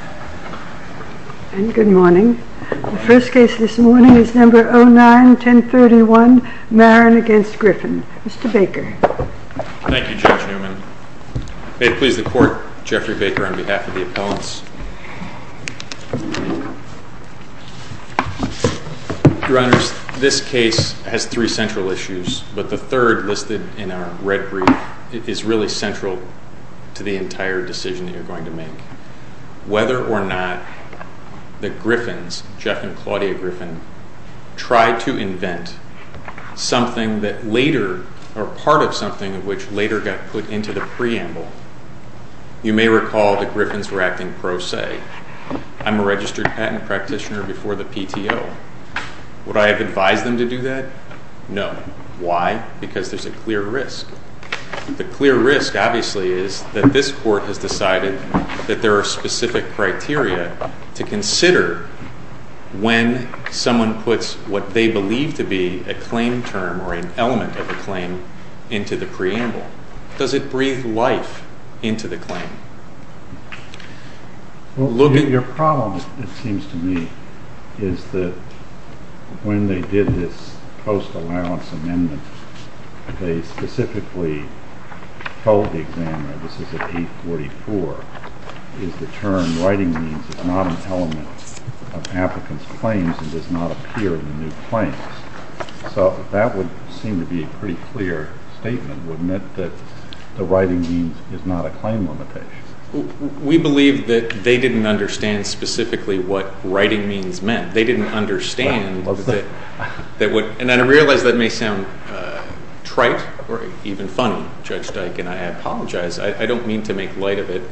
May it please the Court, Jeffrey Baker on behalf of the Appellants. Your Honors, this case has three central issues, but the third listed in our red brief is really Whether or not the Griffins, Jeff and Claudia Griffin, tried to invent something that later, or part of something of which later got put into the preamble, you may recall the Griffins were acting pro se. I'm a registered patent practitioner before the PTO. Would I have advised them to do that? No. Why? Because there's a clear risk. The clear risk, obviously, is that this Court has decided that there are specific criteria to consider when someone puts what they believe to be a claim term or an element of a claim into the preamble. Does it breathe life into the claim? Your problem, it seems to me, is that when they did this post-allowance amendment, they specifically told the examiner, this is at 844, is the term writing means is not an element of applicants' claims and does not appear in the new claims. So that would seem to be a pretty clear statement, would admit that the writing means is not a claim limitation. We believe that they didn't understand specifically what writing means meant. They didn't understand, and I realize that may sound trite or even funny, Judge Dyke, and I apologize. I don't mean to make light of it.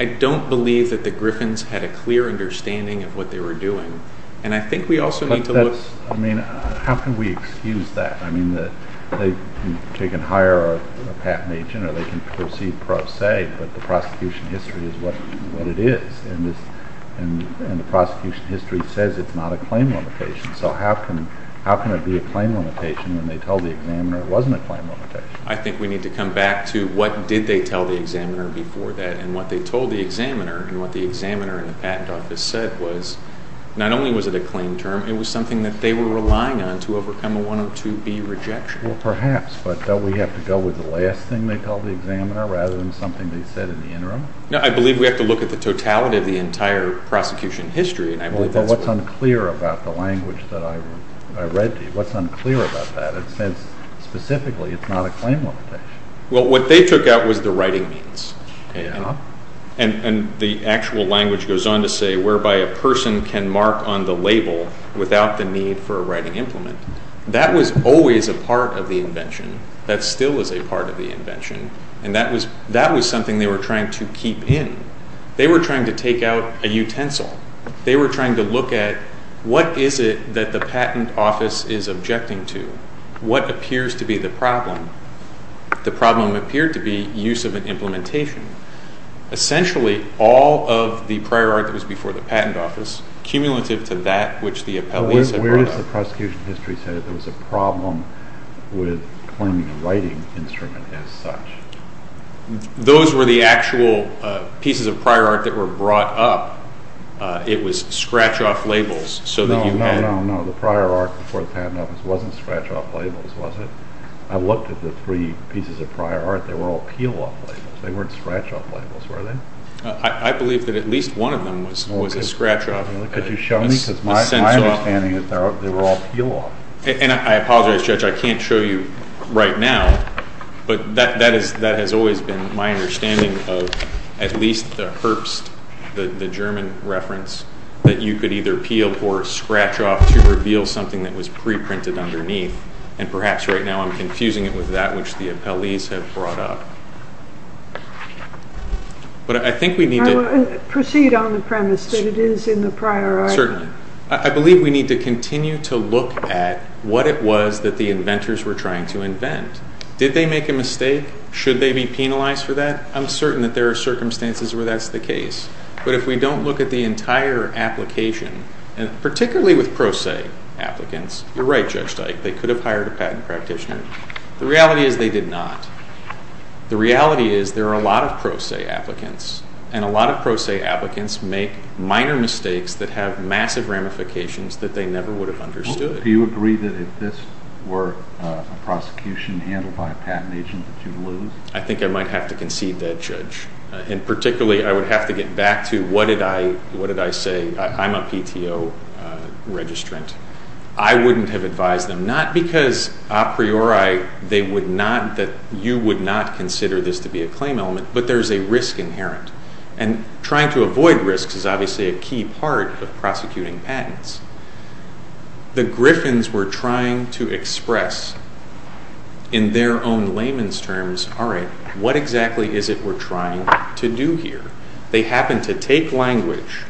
I don't believe that the Griffins had a clear understanding of what they were doing. I mean, how can we excuse that? I mean, they can hire a patent agent or they can proceed pro se, but the prosecution history is what it is, and the prosecution history says it's not a claim limitation. So how can it be a claim limitation when they told the examiner it wasn't a claim limitation? I think we need to come back to what did they tell the examiner before that? And what they told the examiner and what the examiner in the patent office said was not only was it a claim term, it was something that they were relying on to overcome a 102B rejection. Well, perhaps, but don't we have to go with the last thing they told the examiner rather than something they said in the interim? No, I believe we have to look at the totality of the entire prosecution history. Well, what's unclear about the language that I read to you? What's unclear about that? It says specifically it's not a claim limitation. Well, what they took out was the writing means, and the actual language goes on to say, whereby a person can mark on the label without the need for a writing implement. That was always a part of the invention. That still is a part of the invention, and that was something they were trying to keep in. They were trying to take out a utensil. They were trying to look at what is it that the patent office is objecting to? What appears to be the problem? The problem appeared to be use of an implementation. Essentially, all of the prior art that was before the patent office, cumulative to that which the appellees had brought up. Where does the prosecution history say that there was a problem with claiming a writing instrument as such? Those were the actual pieces of prior art that were brought up. It was scratch-off labels so that you had... No, no. The prior art before the patent office wasn't scratch-off labels, was it? I looked at the three pieces of prior art. They were all peel-off labels. They weren't scratch-off labels, were they? I believe that at least one of them was a scratch-off. Could you show me? My understanding is they were all peel-off. I apologize, Judge. I can't show you right now, but that has always been my understanding of at least the Herbst, the German reference, that you could either peel or scratch off to reveal something that was pre-printed underneath, and perhaps right now I'm confusing it with that which the appellees have brought up. But I think we need to... Proceed on the premise that it is in the prior art. Certainly. I believe we need to continue to look at what it was that the inventors were trying to invent. Did they make a mistake? Should they be penalized for that? I'm certain that there are circumstances where that's the case, but if we don't look at the entire application, particularly with pro se applicants, you're right, Judge Dyke, they could have hired a patent practitioner. The reality is they did not. The reality is there are a lot of pro se applicants, and a lot of pro se applicants make minor mistakes that have massive ramifications that they never would have understood. Do you agree that if this were a prosecution handled by a patent agent that you'd lose? I think I might have to concede that, Judge. And particularly I would have to get back to what did I say? I'm a PTO registrant. I wouldn't have advised them, not because a priori you would not consider this to be a claim element, but there's a risk inherent. And trying to avoid risks is obviously a key part of prosecuting patents. The Griffins were trying to express in their own layman's terms, all right, what exactly is it we're trying to do here? They happened to take language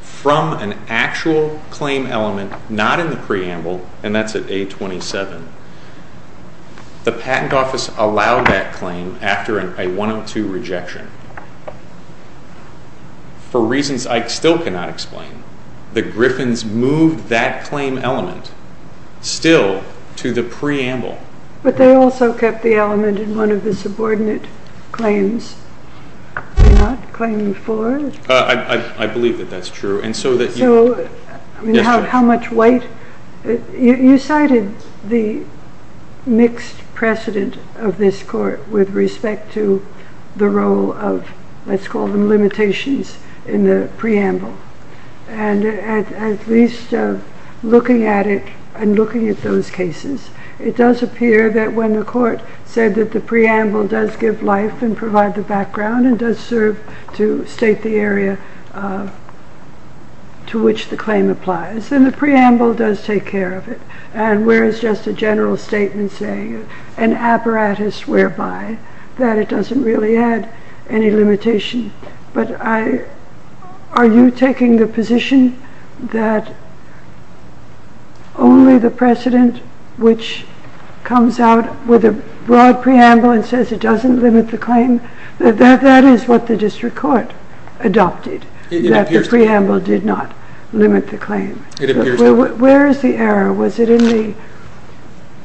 from an actual claim element not in the preamble, and that's at A27. The patent office allowed that claim after a 102 rejection. For reasons I still cannot explain, the Griffins moved that claim element still to the preamble. But they also kept the element in one of the subordinate claims, not claim four. I believe that that's true. So how much weight? You cited the mixed precedent of this court with respect to the role of, let's call them limitations in the preamble. And at least looking at it and looking at those cases, it does appear that when the court said that the preamble does give life and provide the background and does serve to state the area to which the claim applies, then the preamble does take care of it. And whereas just a general statement saying an apparatus whereby, that it doesn't really add any limitation. But are you taking the position that only the precedent which comes out with a broad preamble and says it doesn't limit the claim? That is what the district court adopted, that the preamble did not limit the claim. Where is the error? Was it in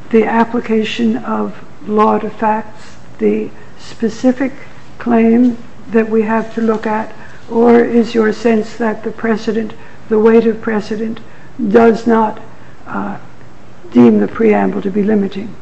the application of law to facts, the specific claim that we have to look at? Or is your sense that the precedent, the weight of precedent, does not deem the preamble to be limiting?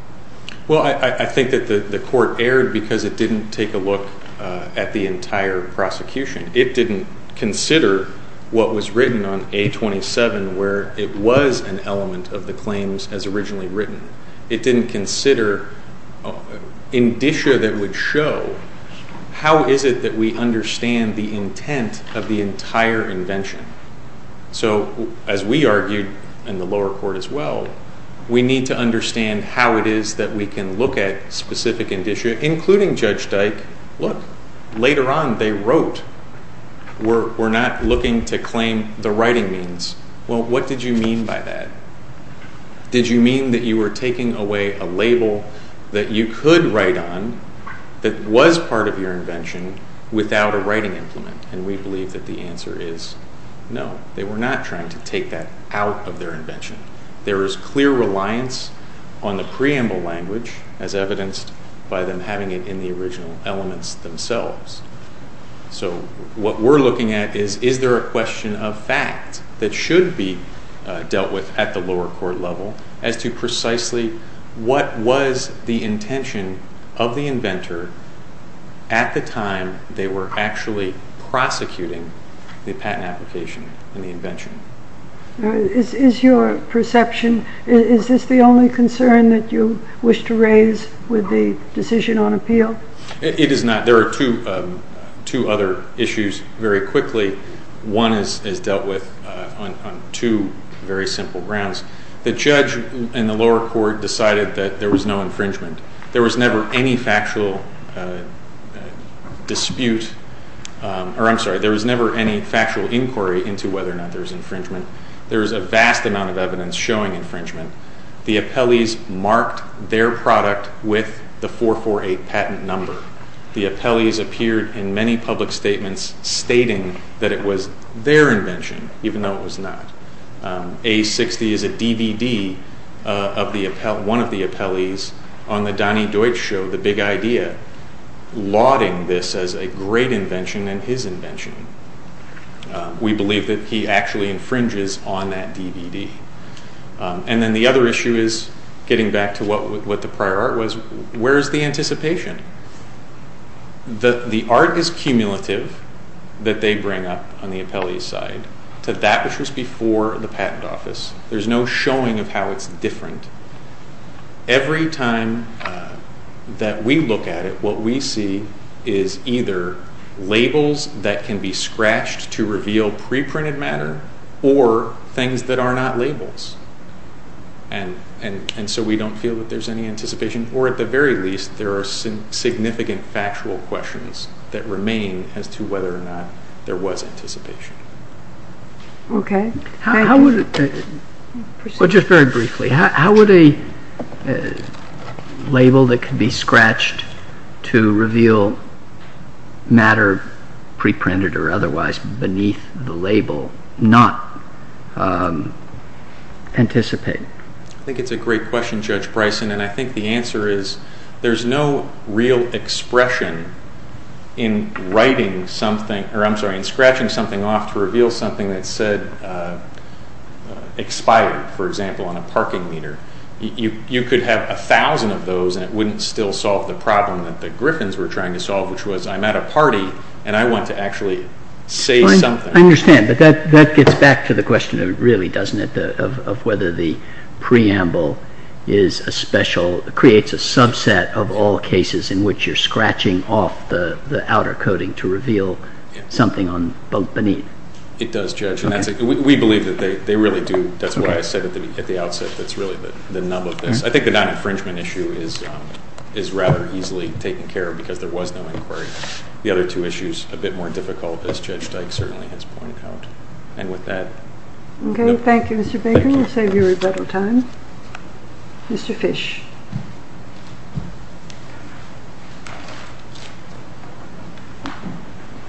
Well, I think that the court erred because it didn't take a look at the entire prosecution. It didn't consider what was written on A27 where it was an element of the claims as originally written. It didn't consider indicia that would show how is it that we understand the intent of the entire invention. So as we argued, and the lower court as well, we need to understand how it is that we can look at specific indicia, including Judge Dyke. Look, later on they wrote. We're not looking to claim the writing means. Well, what did you mean by that? Did you mean that you were taking away a label that you could write on that was part of your invention without a writing implement? And we believe that the answer is no. They were not trying to take that out of their invention. There is clear reliance on the preamble language, as evidenced by them having it in the original elements themselves. So what we're looking at is, is there a question of fact that should be dealt with at the lower court level as to precisely what was the intention of the inventor at the time they were actually prosecuting the patent application and the invention. Is your perception, is this the only concern that you wish to raise with the decision on appeal? It is not. There are two other issues very quickly. One is dealt with on two very simple grounds. The judge and the lower court decided that there was no infringement. There was never any factual dispute, or I'm sorry, there was never any factual inquiry into whether or not there was infringement. There was a vast amount of evidence showing infringement. The appellees marked their product with the 448 patent number. The appellees appeared in many public statements stating that it was their invention, even though it was not. A60 is a DVD of one of the appellees on the Donnie Deutsch show, The Big Idea, lauding this as a great invention and his invention. We believe that he actually infringes on that DVD. And then the other issue is, getting back to what the prior art was, where is the anticipation? The art is cumulative that they bring up on the appellee's side to that which was before the patent office. There's no showing of how it's different. Every time that we look at it, what we see is either labels that can be scratched to reveal pre-printed matter, or things that are not labels. And so we don't feel that there's any anticipation, or at the very least, there are significant factual questions that remain as to whether or not there was anticipation. Okay. Thank you. Just very briefly, how would a label that could be scratched to reveal matter pre-printed or otherwise beneath the label not anticipate? I think it's a great question, Judge Bryson, and I think the answer is there's no real expression in writing something, or I'm sorry, in scratching something off to reveal something that said expired, for example, on a parking meter. You could have a thousand of those, and it wouldn't still solve the problem that the Griffins were trying to solve, which was, I'm at a party, and I want to actually say something. I understand, but that gets back to the question, really, doesn't it, of whether the preamble is a special, creates a subset of all cases in which you're scratching off the outer coating to reveal something beneath. It does, Judge, and we believe that they really do. That's why I said at the outset that's really the nub of this. I think the non-infringement issue is rather easily taken care of because there was no inquiry. The other two issues, a bit more difficult, as Judge Dyke certainly has pointed out. And with that, no. Okay. Thank you, Mr. Baker. Thank you. We'll save you a little time. Mr. Fish.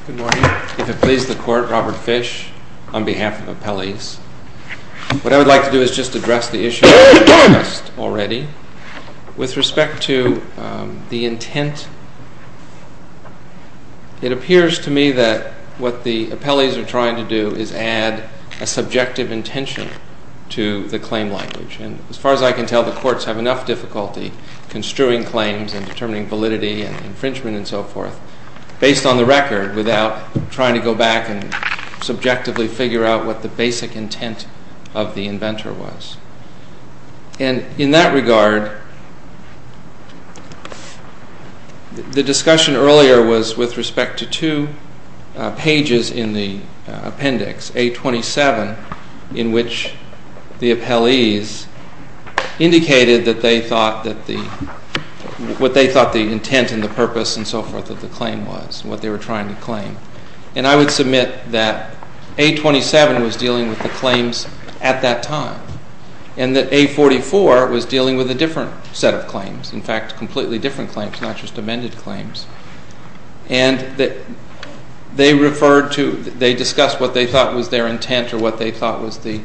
Good morning. If it pleases the Court, Robert Fish on behalf of appellees. What I would like to do is just address the issue discussed already. With respect to the intent, it appears to me that what the appellees are trying to do is add a subjective intention to the claim language. And as far as I can tell, the courts have enough difficulty construing claims and determining validity and infringement and so forth based on the record without trying to go back and subjectively figure out what the basic intent of the inventor was. And in that regard, the discussion earlier was with respect to two pages in the appendix, A27, in which the appellees indicated what they thought the intent and the purpose and so forth of the claim was, what they were trying to claim. And I would submit that A27 was dealing with the claims at that time and that A44 was dealing with a different set of claims, in fact, completely different claims, not just amended claims. And they discussed what they thought was their intent or what they thought was the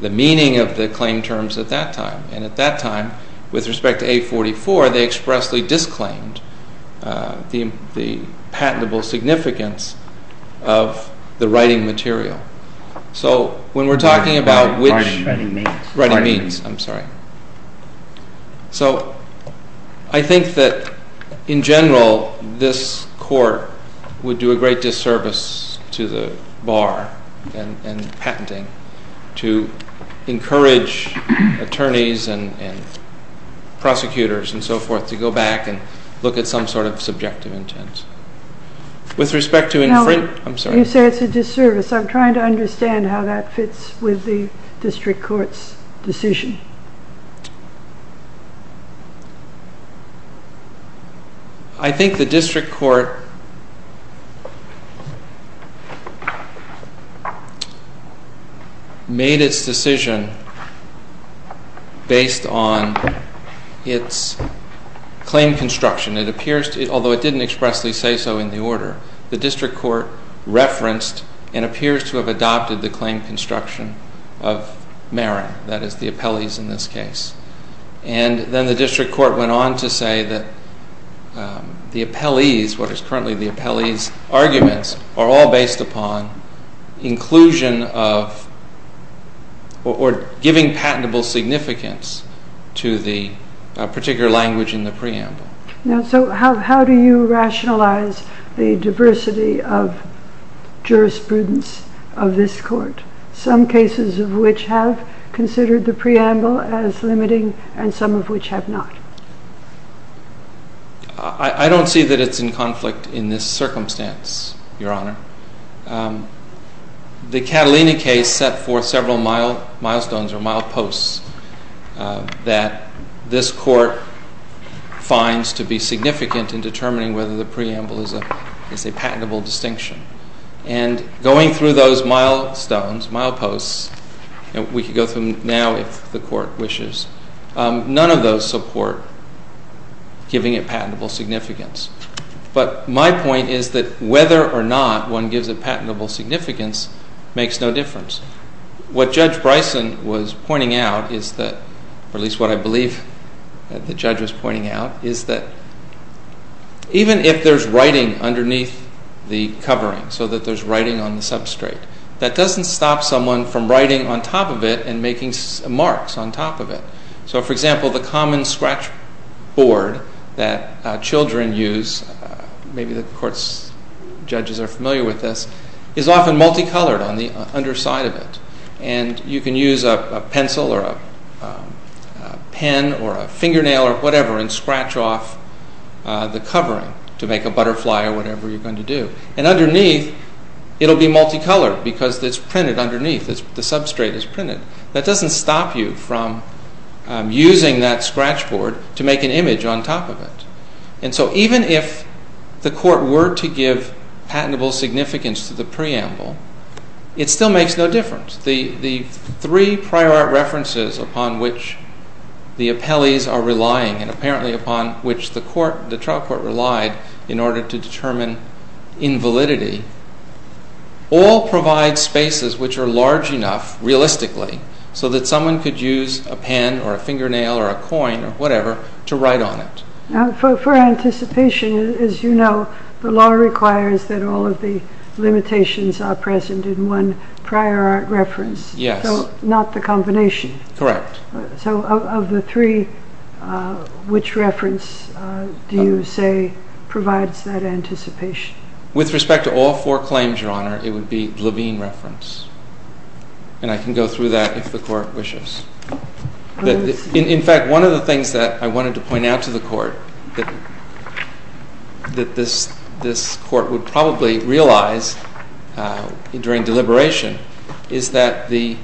meaning of the claim terms at that time. And at that time, with respect to A44, they expressly disclaimed the patentable significance of the writing material. So, when we're talking about which... Writing means. Writing means, I'm sorry. So, I think that, in general, this court would do a great disservice to the bar and patenting to encourage attorneys and prosecutors and so forth to go back and look at some sort of subjective intent. With respect to... You say it's a disservice. I'm trying to understand how that fits with the district court's decision. I think the district court made its decision based on its claim construction. It appears to... Although it didn't expressly say so in the order. The district court referenced and appears to have adopted the claim construction of Marin. That is, the appellees in this case. And then the district court went on to say that the appellees, what is currently the appellees' arguments, are all based upon inclusion of or giving patentable significance to the particular language in the preamble. So, how do you rationalize the diversity of jurisprudence of this court? Some cases of which have considered the preamble as limiting and some of which have not. I don't see that it's in conflict in this circumstance, Your Honor. The Catalina case set forth several milestones or mild posts that this court finds to be significant in determining whether the preamble is a patentable distinction. And going through those milestones, mild posts, and we can go through them now if the court wishes, none of those support giving it patentable significance. But my point is that whether or not one gives it patentable significance makes no difference. What Judge Bryson was pointing out is that, or at least what I believe the judge was pointing out, is that even if there's writing underneath the covering, so that there's writing on the substrate, that doesn't stop someone from writing on top of it and making marks on top of it. So, for example, the common scratch board that children use, maybe the court's judges are familiar with this, is often multicolored on the underside of it. And you can use a pencil or a pen or a fingernail or whatever and scratch off the covering to make a butterfly or whatever you're going to do. And underneath, it'll be multicolored because it's printed underneath, the substrate is printed. That doesn't stop you from using that scratch board to make an image on top of it. And so even if the court were to give patentable significance to the preamble, it still makes no difference. The three prior references upon which the appellees are relying and apparently upon which the trial court relied in order to determine invalidity all provide spaces which are large enough, realistically, so that someone could use a pen or a fingernail or a coin or whatever to write on it. Now, for anticipation, as you know, the law requires that all of the limitations are present in one prior reference. Yes. So not the combination. Correct. So of the three, which reference do you say provides that anticipation? With respect to all four claims, Your Honor, it would be Levine reference. And I can go through that if the court wishes. In fact, one of the things that I wanted to point out to the court that this court would probably realize during deliberation is that the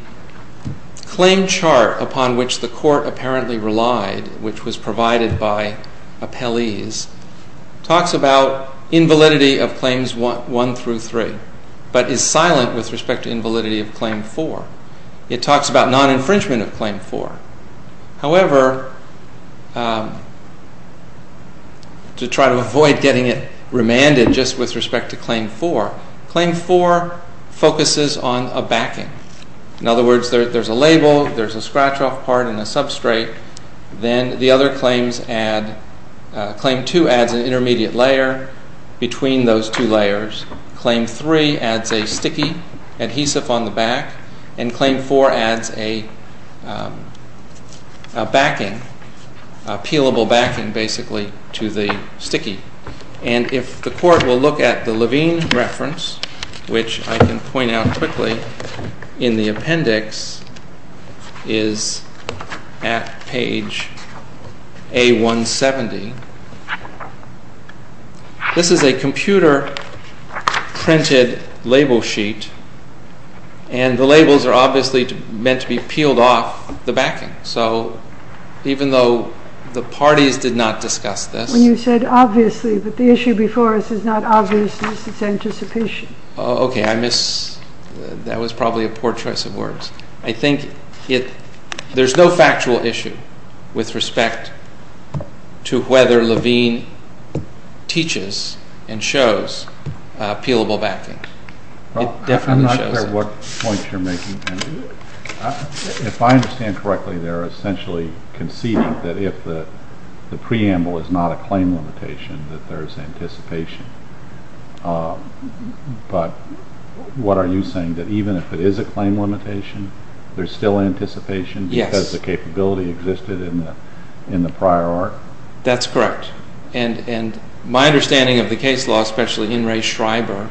claim chart upon which the court apparently relied, which was provided by appellees, talks about invalidity of claims one through three but is silent with respect to invalidity of claim four. It talks about non-infringement of claim four. However, to try to avoid getting it remanded just with respect to claim four, claim four focuses on a backing. In other words, there's a label, there's a scratch-off part and a substrate. Then the other claims add, claim two adds an intermediate layer between those two layers. Claim three adds a sticky adhesive on the back. And claim four adds a backing, a peelable backing, basically, to the sticky. And if the court will look at the Levine reference, which I can point out quickly in the appendix, is at page A170. This is a computer-printed label sheet, and the labels are obviously meant to be peeled off the backing. So even though the parties did not discuss this— When you said obviously, but the issue before us is not obviousness, it's anticipation. Okay, I miss—that was probably a poor choice of words. I think there's no factual issue with respect to whether Levine teaches and shows peelable backing. It definitely shows it. I'm not sure what point you're making. If I understand correctly, they're essentially conceding that if the preamble is not a claim limitation, that there's anticipation. But what are you saying, that even if it is a claim limitation, there's still anticipation? Yes. Because the capability existed in the prior art? That's correct. And my understanding of the case law, especially in Ray Schreiber,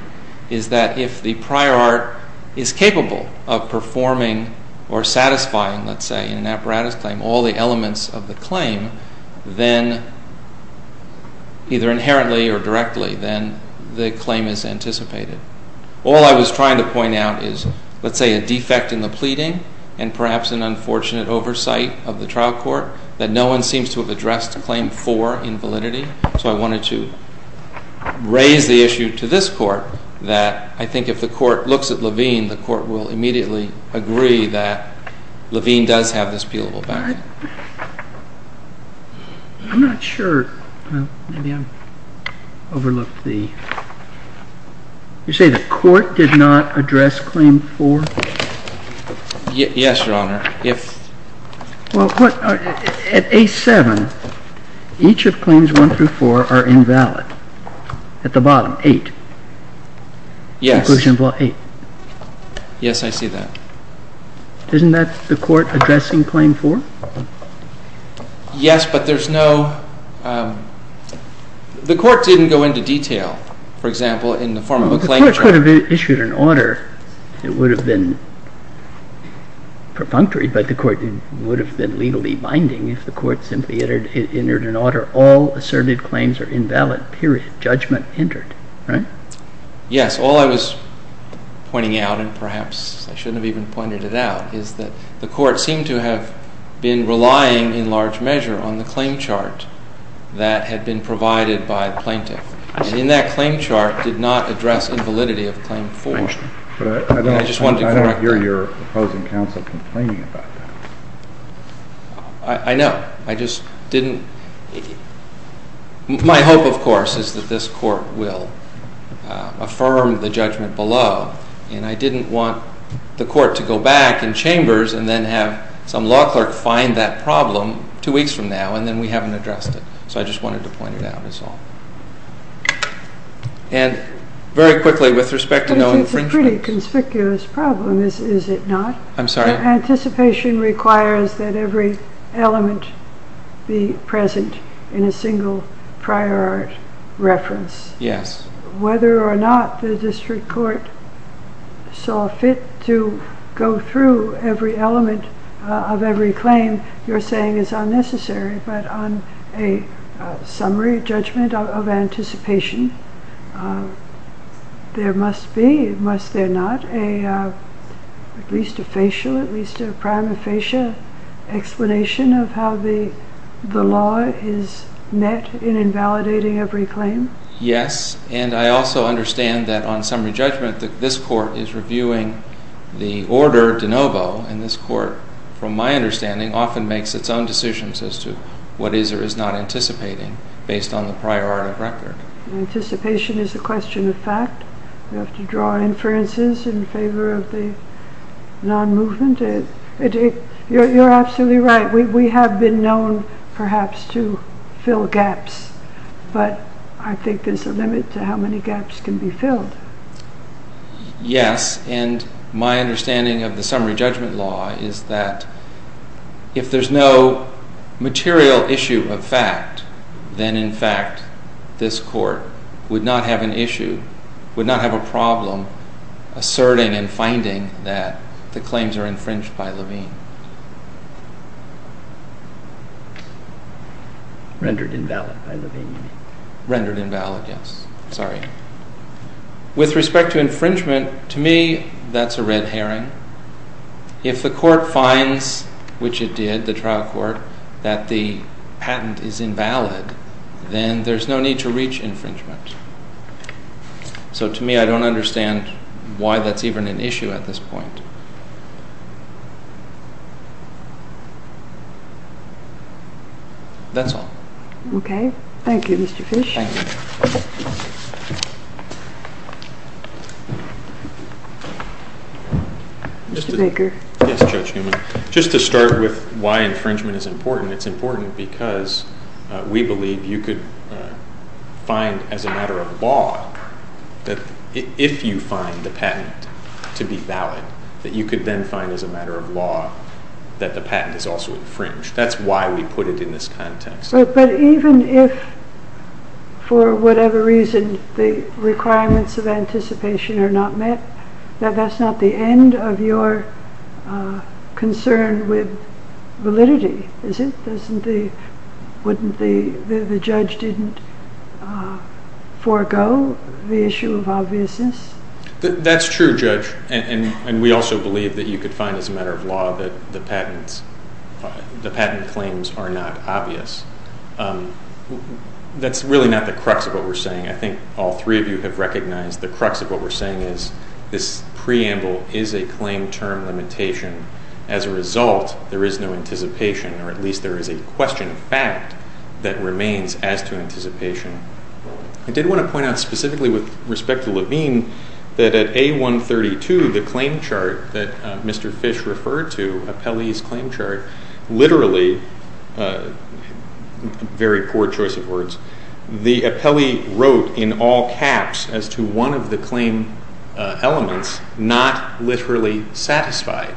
is that if the prior art is capable of performing or satisfying, let's say, in an apparatus claim, all the elements of the claim, then either inherently or directly, then the claim is anticipated. All I was trying to point out is, let's say, a defect in the pleading and perhaps an unfortunate oversight of the trial court, that no one seems to have addressed claim four in validity. So I wanted to raise the issue to this Court that I think if the Court looks at Levine, the Court will immediately agree that Levine does have this appealable backing. I'm not sure. Maybe I've overlooked the... You say the Court did not address claim four? Yes, Your Honor. At A7, each of claims one through four are invalid. At the bottom, eight. Yes. Yes, I see that. Isn't that the Court addressing claim four? Yes, but there's no... The Court didn't go into detail, for example, in the form of a claim... The Court could have issued an order. It would have been perfunctory, but the Court would have been legally binding if the Court simply entered an order, all asserted claims are invalid, period. Judgment entered, right? Yes. All I was pointing out, and perhaps I shouldn't have even pointed it out, is that the Court seemed to have been relying in large measure on the claim chart that had been provided by the plaintiff. And in that claim chart did not address invalidity of claim four. But I don't hear your opposing counsel complaining about that. I know. I just didn't... My hope, of course, is that this Court will affirm the judgment below, and I didn't want the Court to go back in chambers and then have some law clerk find that problem two weeks from now and then we haven't addressed it. So I just wanted to point it out, that's all. And very quickly, with respect to no infringement... But it's a pretty conspicuous problem, is it not? I'm sorry? Anticipation requires that every element be present in a single prior art reference. Yes. Whether or not the District Court saw fit to go through every element of every claim you're saying is unnecessary, but on a summary judgment of anticipation, there must be, must there not, at least a facial, at least a prime of facial explanation of how the law is met in invalidating every claim? Yes. And I also understand that on summary judgment that this Court is reviewing the order de novo, and this Court, from my understanding, often makes its own decisions as to what is or is not anticipating based on the prior art of record. Anticipation is a question of fact. You have to draw inferences in favor of the non-movement. You're absolutely right. We have been known, perhaps, to fill gaps, but I think there's a limit to how many gaps can be filled. Yes, and my understanding of the summary judgment law is that if there's no material issue of fact, then, in fact, this Court would not have an issue, would not have a problem asserting and finding that the claims are infringed by Levine. Rendered invalid by Levine. Rendered invalid, yes. Sorry. With respect to infringement, to me, that's a red herring. If the Court finds, which it did, the trial court, that the patent is invalid, then there's no need to reach infringement. So, to me, I don't understand why that's even an issue at this point. That's all. Okay. Thank you, Mr. Fish. Thank you. Mr. Baker. Yes, Judge Newman. Just to start with why infringement is important, it's important because we believe you could find, as a matter of law, that if you find the patent to be valid, that you could then find, as a matter of law, that the patent is also infringed. That's why we put it in this context. But even if, for whatever reason, the requirements of anticipation are not met, that's not the end of your concern with validity, is it? Wouldn't the judge forego the issue of obviousness? That's true, Judge. And we also believe that you could find, as a matter of law, that the patent claims are not obvious. That's really not the crux of what we're saying. I think all three of you have recognized the crux of what we're saying is this preamble is a claim term limitation. As a result, there is no anticipation, or at least there is a question of fact that remains as to anticipation. I did want to point out specifically with respect to Levine that at A132, the claim chart that Mr. Fish referred to, Apelli's claim chart, literally, very poor choice of words, the Apelli wrote in all caps as to one of the claim elements, not literally satisfied.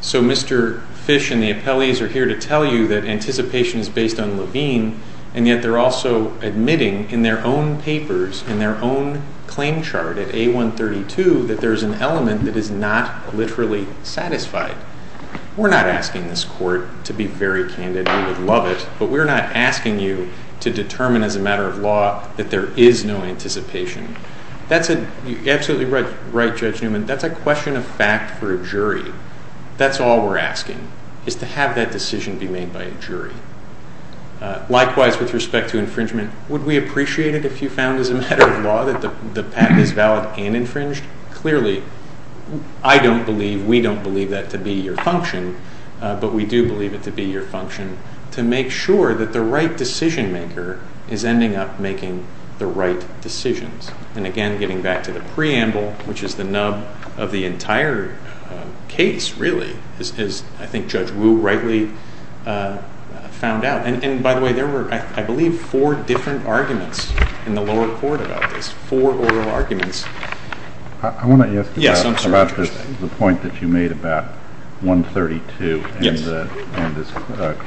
So Mr. Fish and the Apelli's are here to tell you that anticipation is based on Levine, and yet they're also admitting in their own papers, in their own claim chart at A132, that there's an element that is not literally satisfied. We're not asking this court to be very candid. We would love it. But we're not asking you to determine as a matter of law that there is no anticipation. You're absolutely right, Judge Newman. That's a question of fact for a jury. That's all we're asking is to have that decision be made by a jury. Likewise, with respect to infringement, would we appreciate it if you found as a matter of law that the patent is valid and infringed? Clearly, I don't believe, we don't believe that to be your function, but we do believe it to be your function to make sure that the right decision maker is ending up making the right decisions. And again, getting back to the preamble, which is the nub of the entire case, really, as I think Judge Wu rightly found out. And by the way, there were, I believe, four different arguments in the lower court about this, four oral arguments. I want to ask you about the point that you made about 132 and this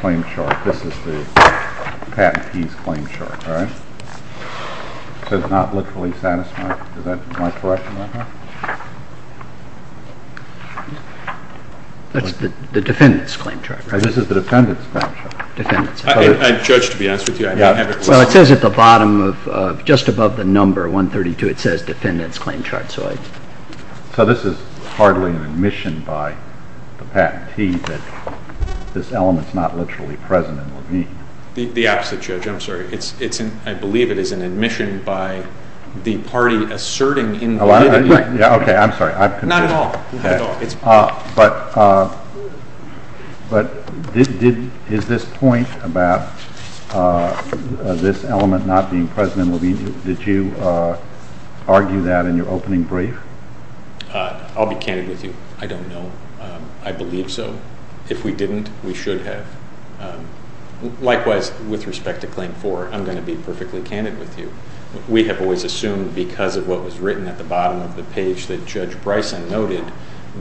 claim chart. This is the patentee's claim chart, right? So it's not literally satisfied? Is that my question right now? That's the defendant's claim chart, right? This is the defendant's claim chart. Judge, to be honest with you, I didn't have a question. Well, it says at the bottom, just above the number 132, it says defendant's claim chart. So this is hardly an admission by the patentee that this element's not literally present in Levine? The opposite, Judge. I'm sorry. I believe it is an admission by the party asserting in Levine. Okay, I'm sorry. Not at all. But is this point about this element not being present in Levine, did you argue that in your opening brief? I'll be candid with you. I don't know. I believe so. If we didn't, we should have. Likewise, with respect to Claim 4, I'm going to be perfectly candid with you. We have always assumed because of what was written at the bottom of the page that Judge Bryson noted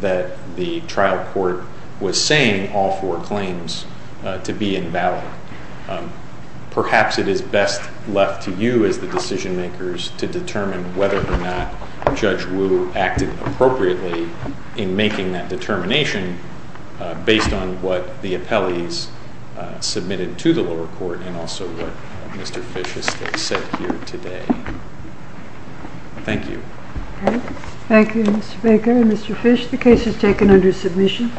that the trial court was saying all four claims to be invalid. Perhaps it is best left to you as the decision makers to determine whether or not Judge Wu acted appropriately in making that determination based on what the appellees submitted to the lower court and also what Mr. Fish has said here today. Thank you. Thank you, Mr. Baker. Mr. Fish, the case is taken under submission.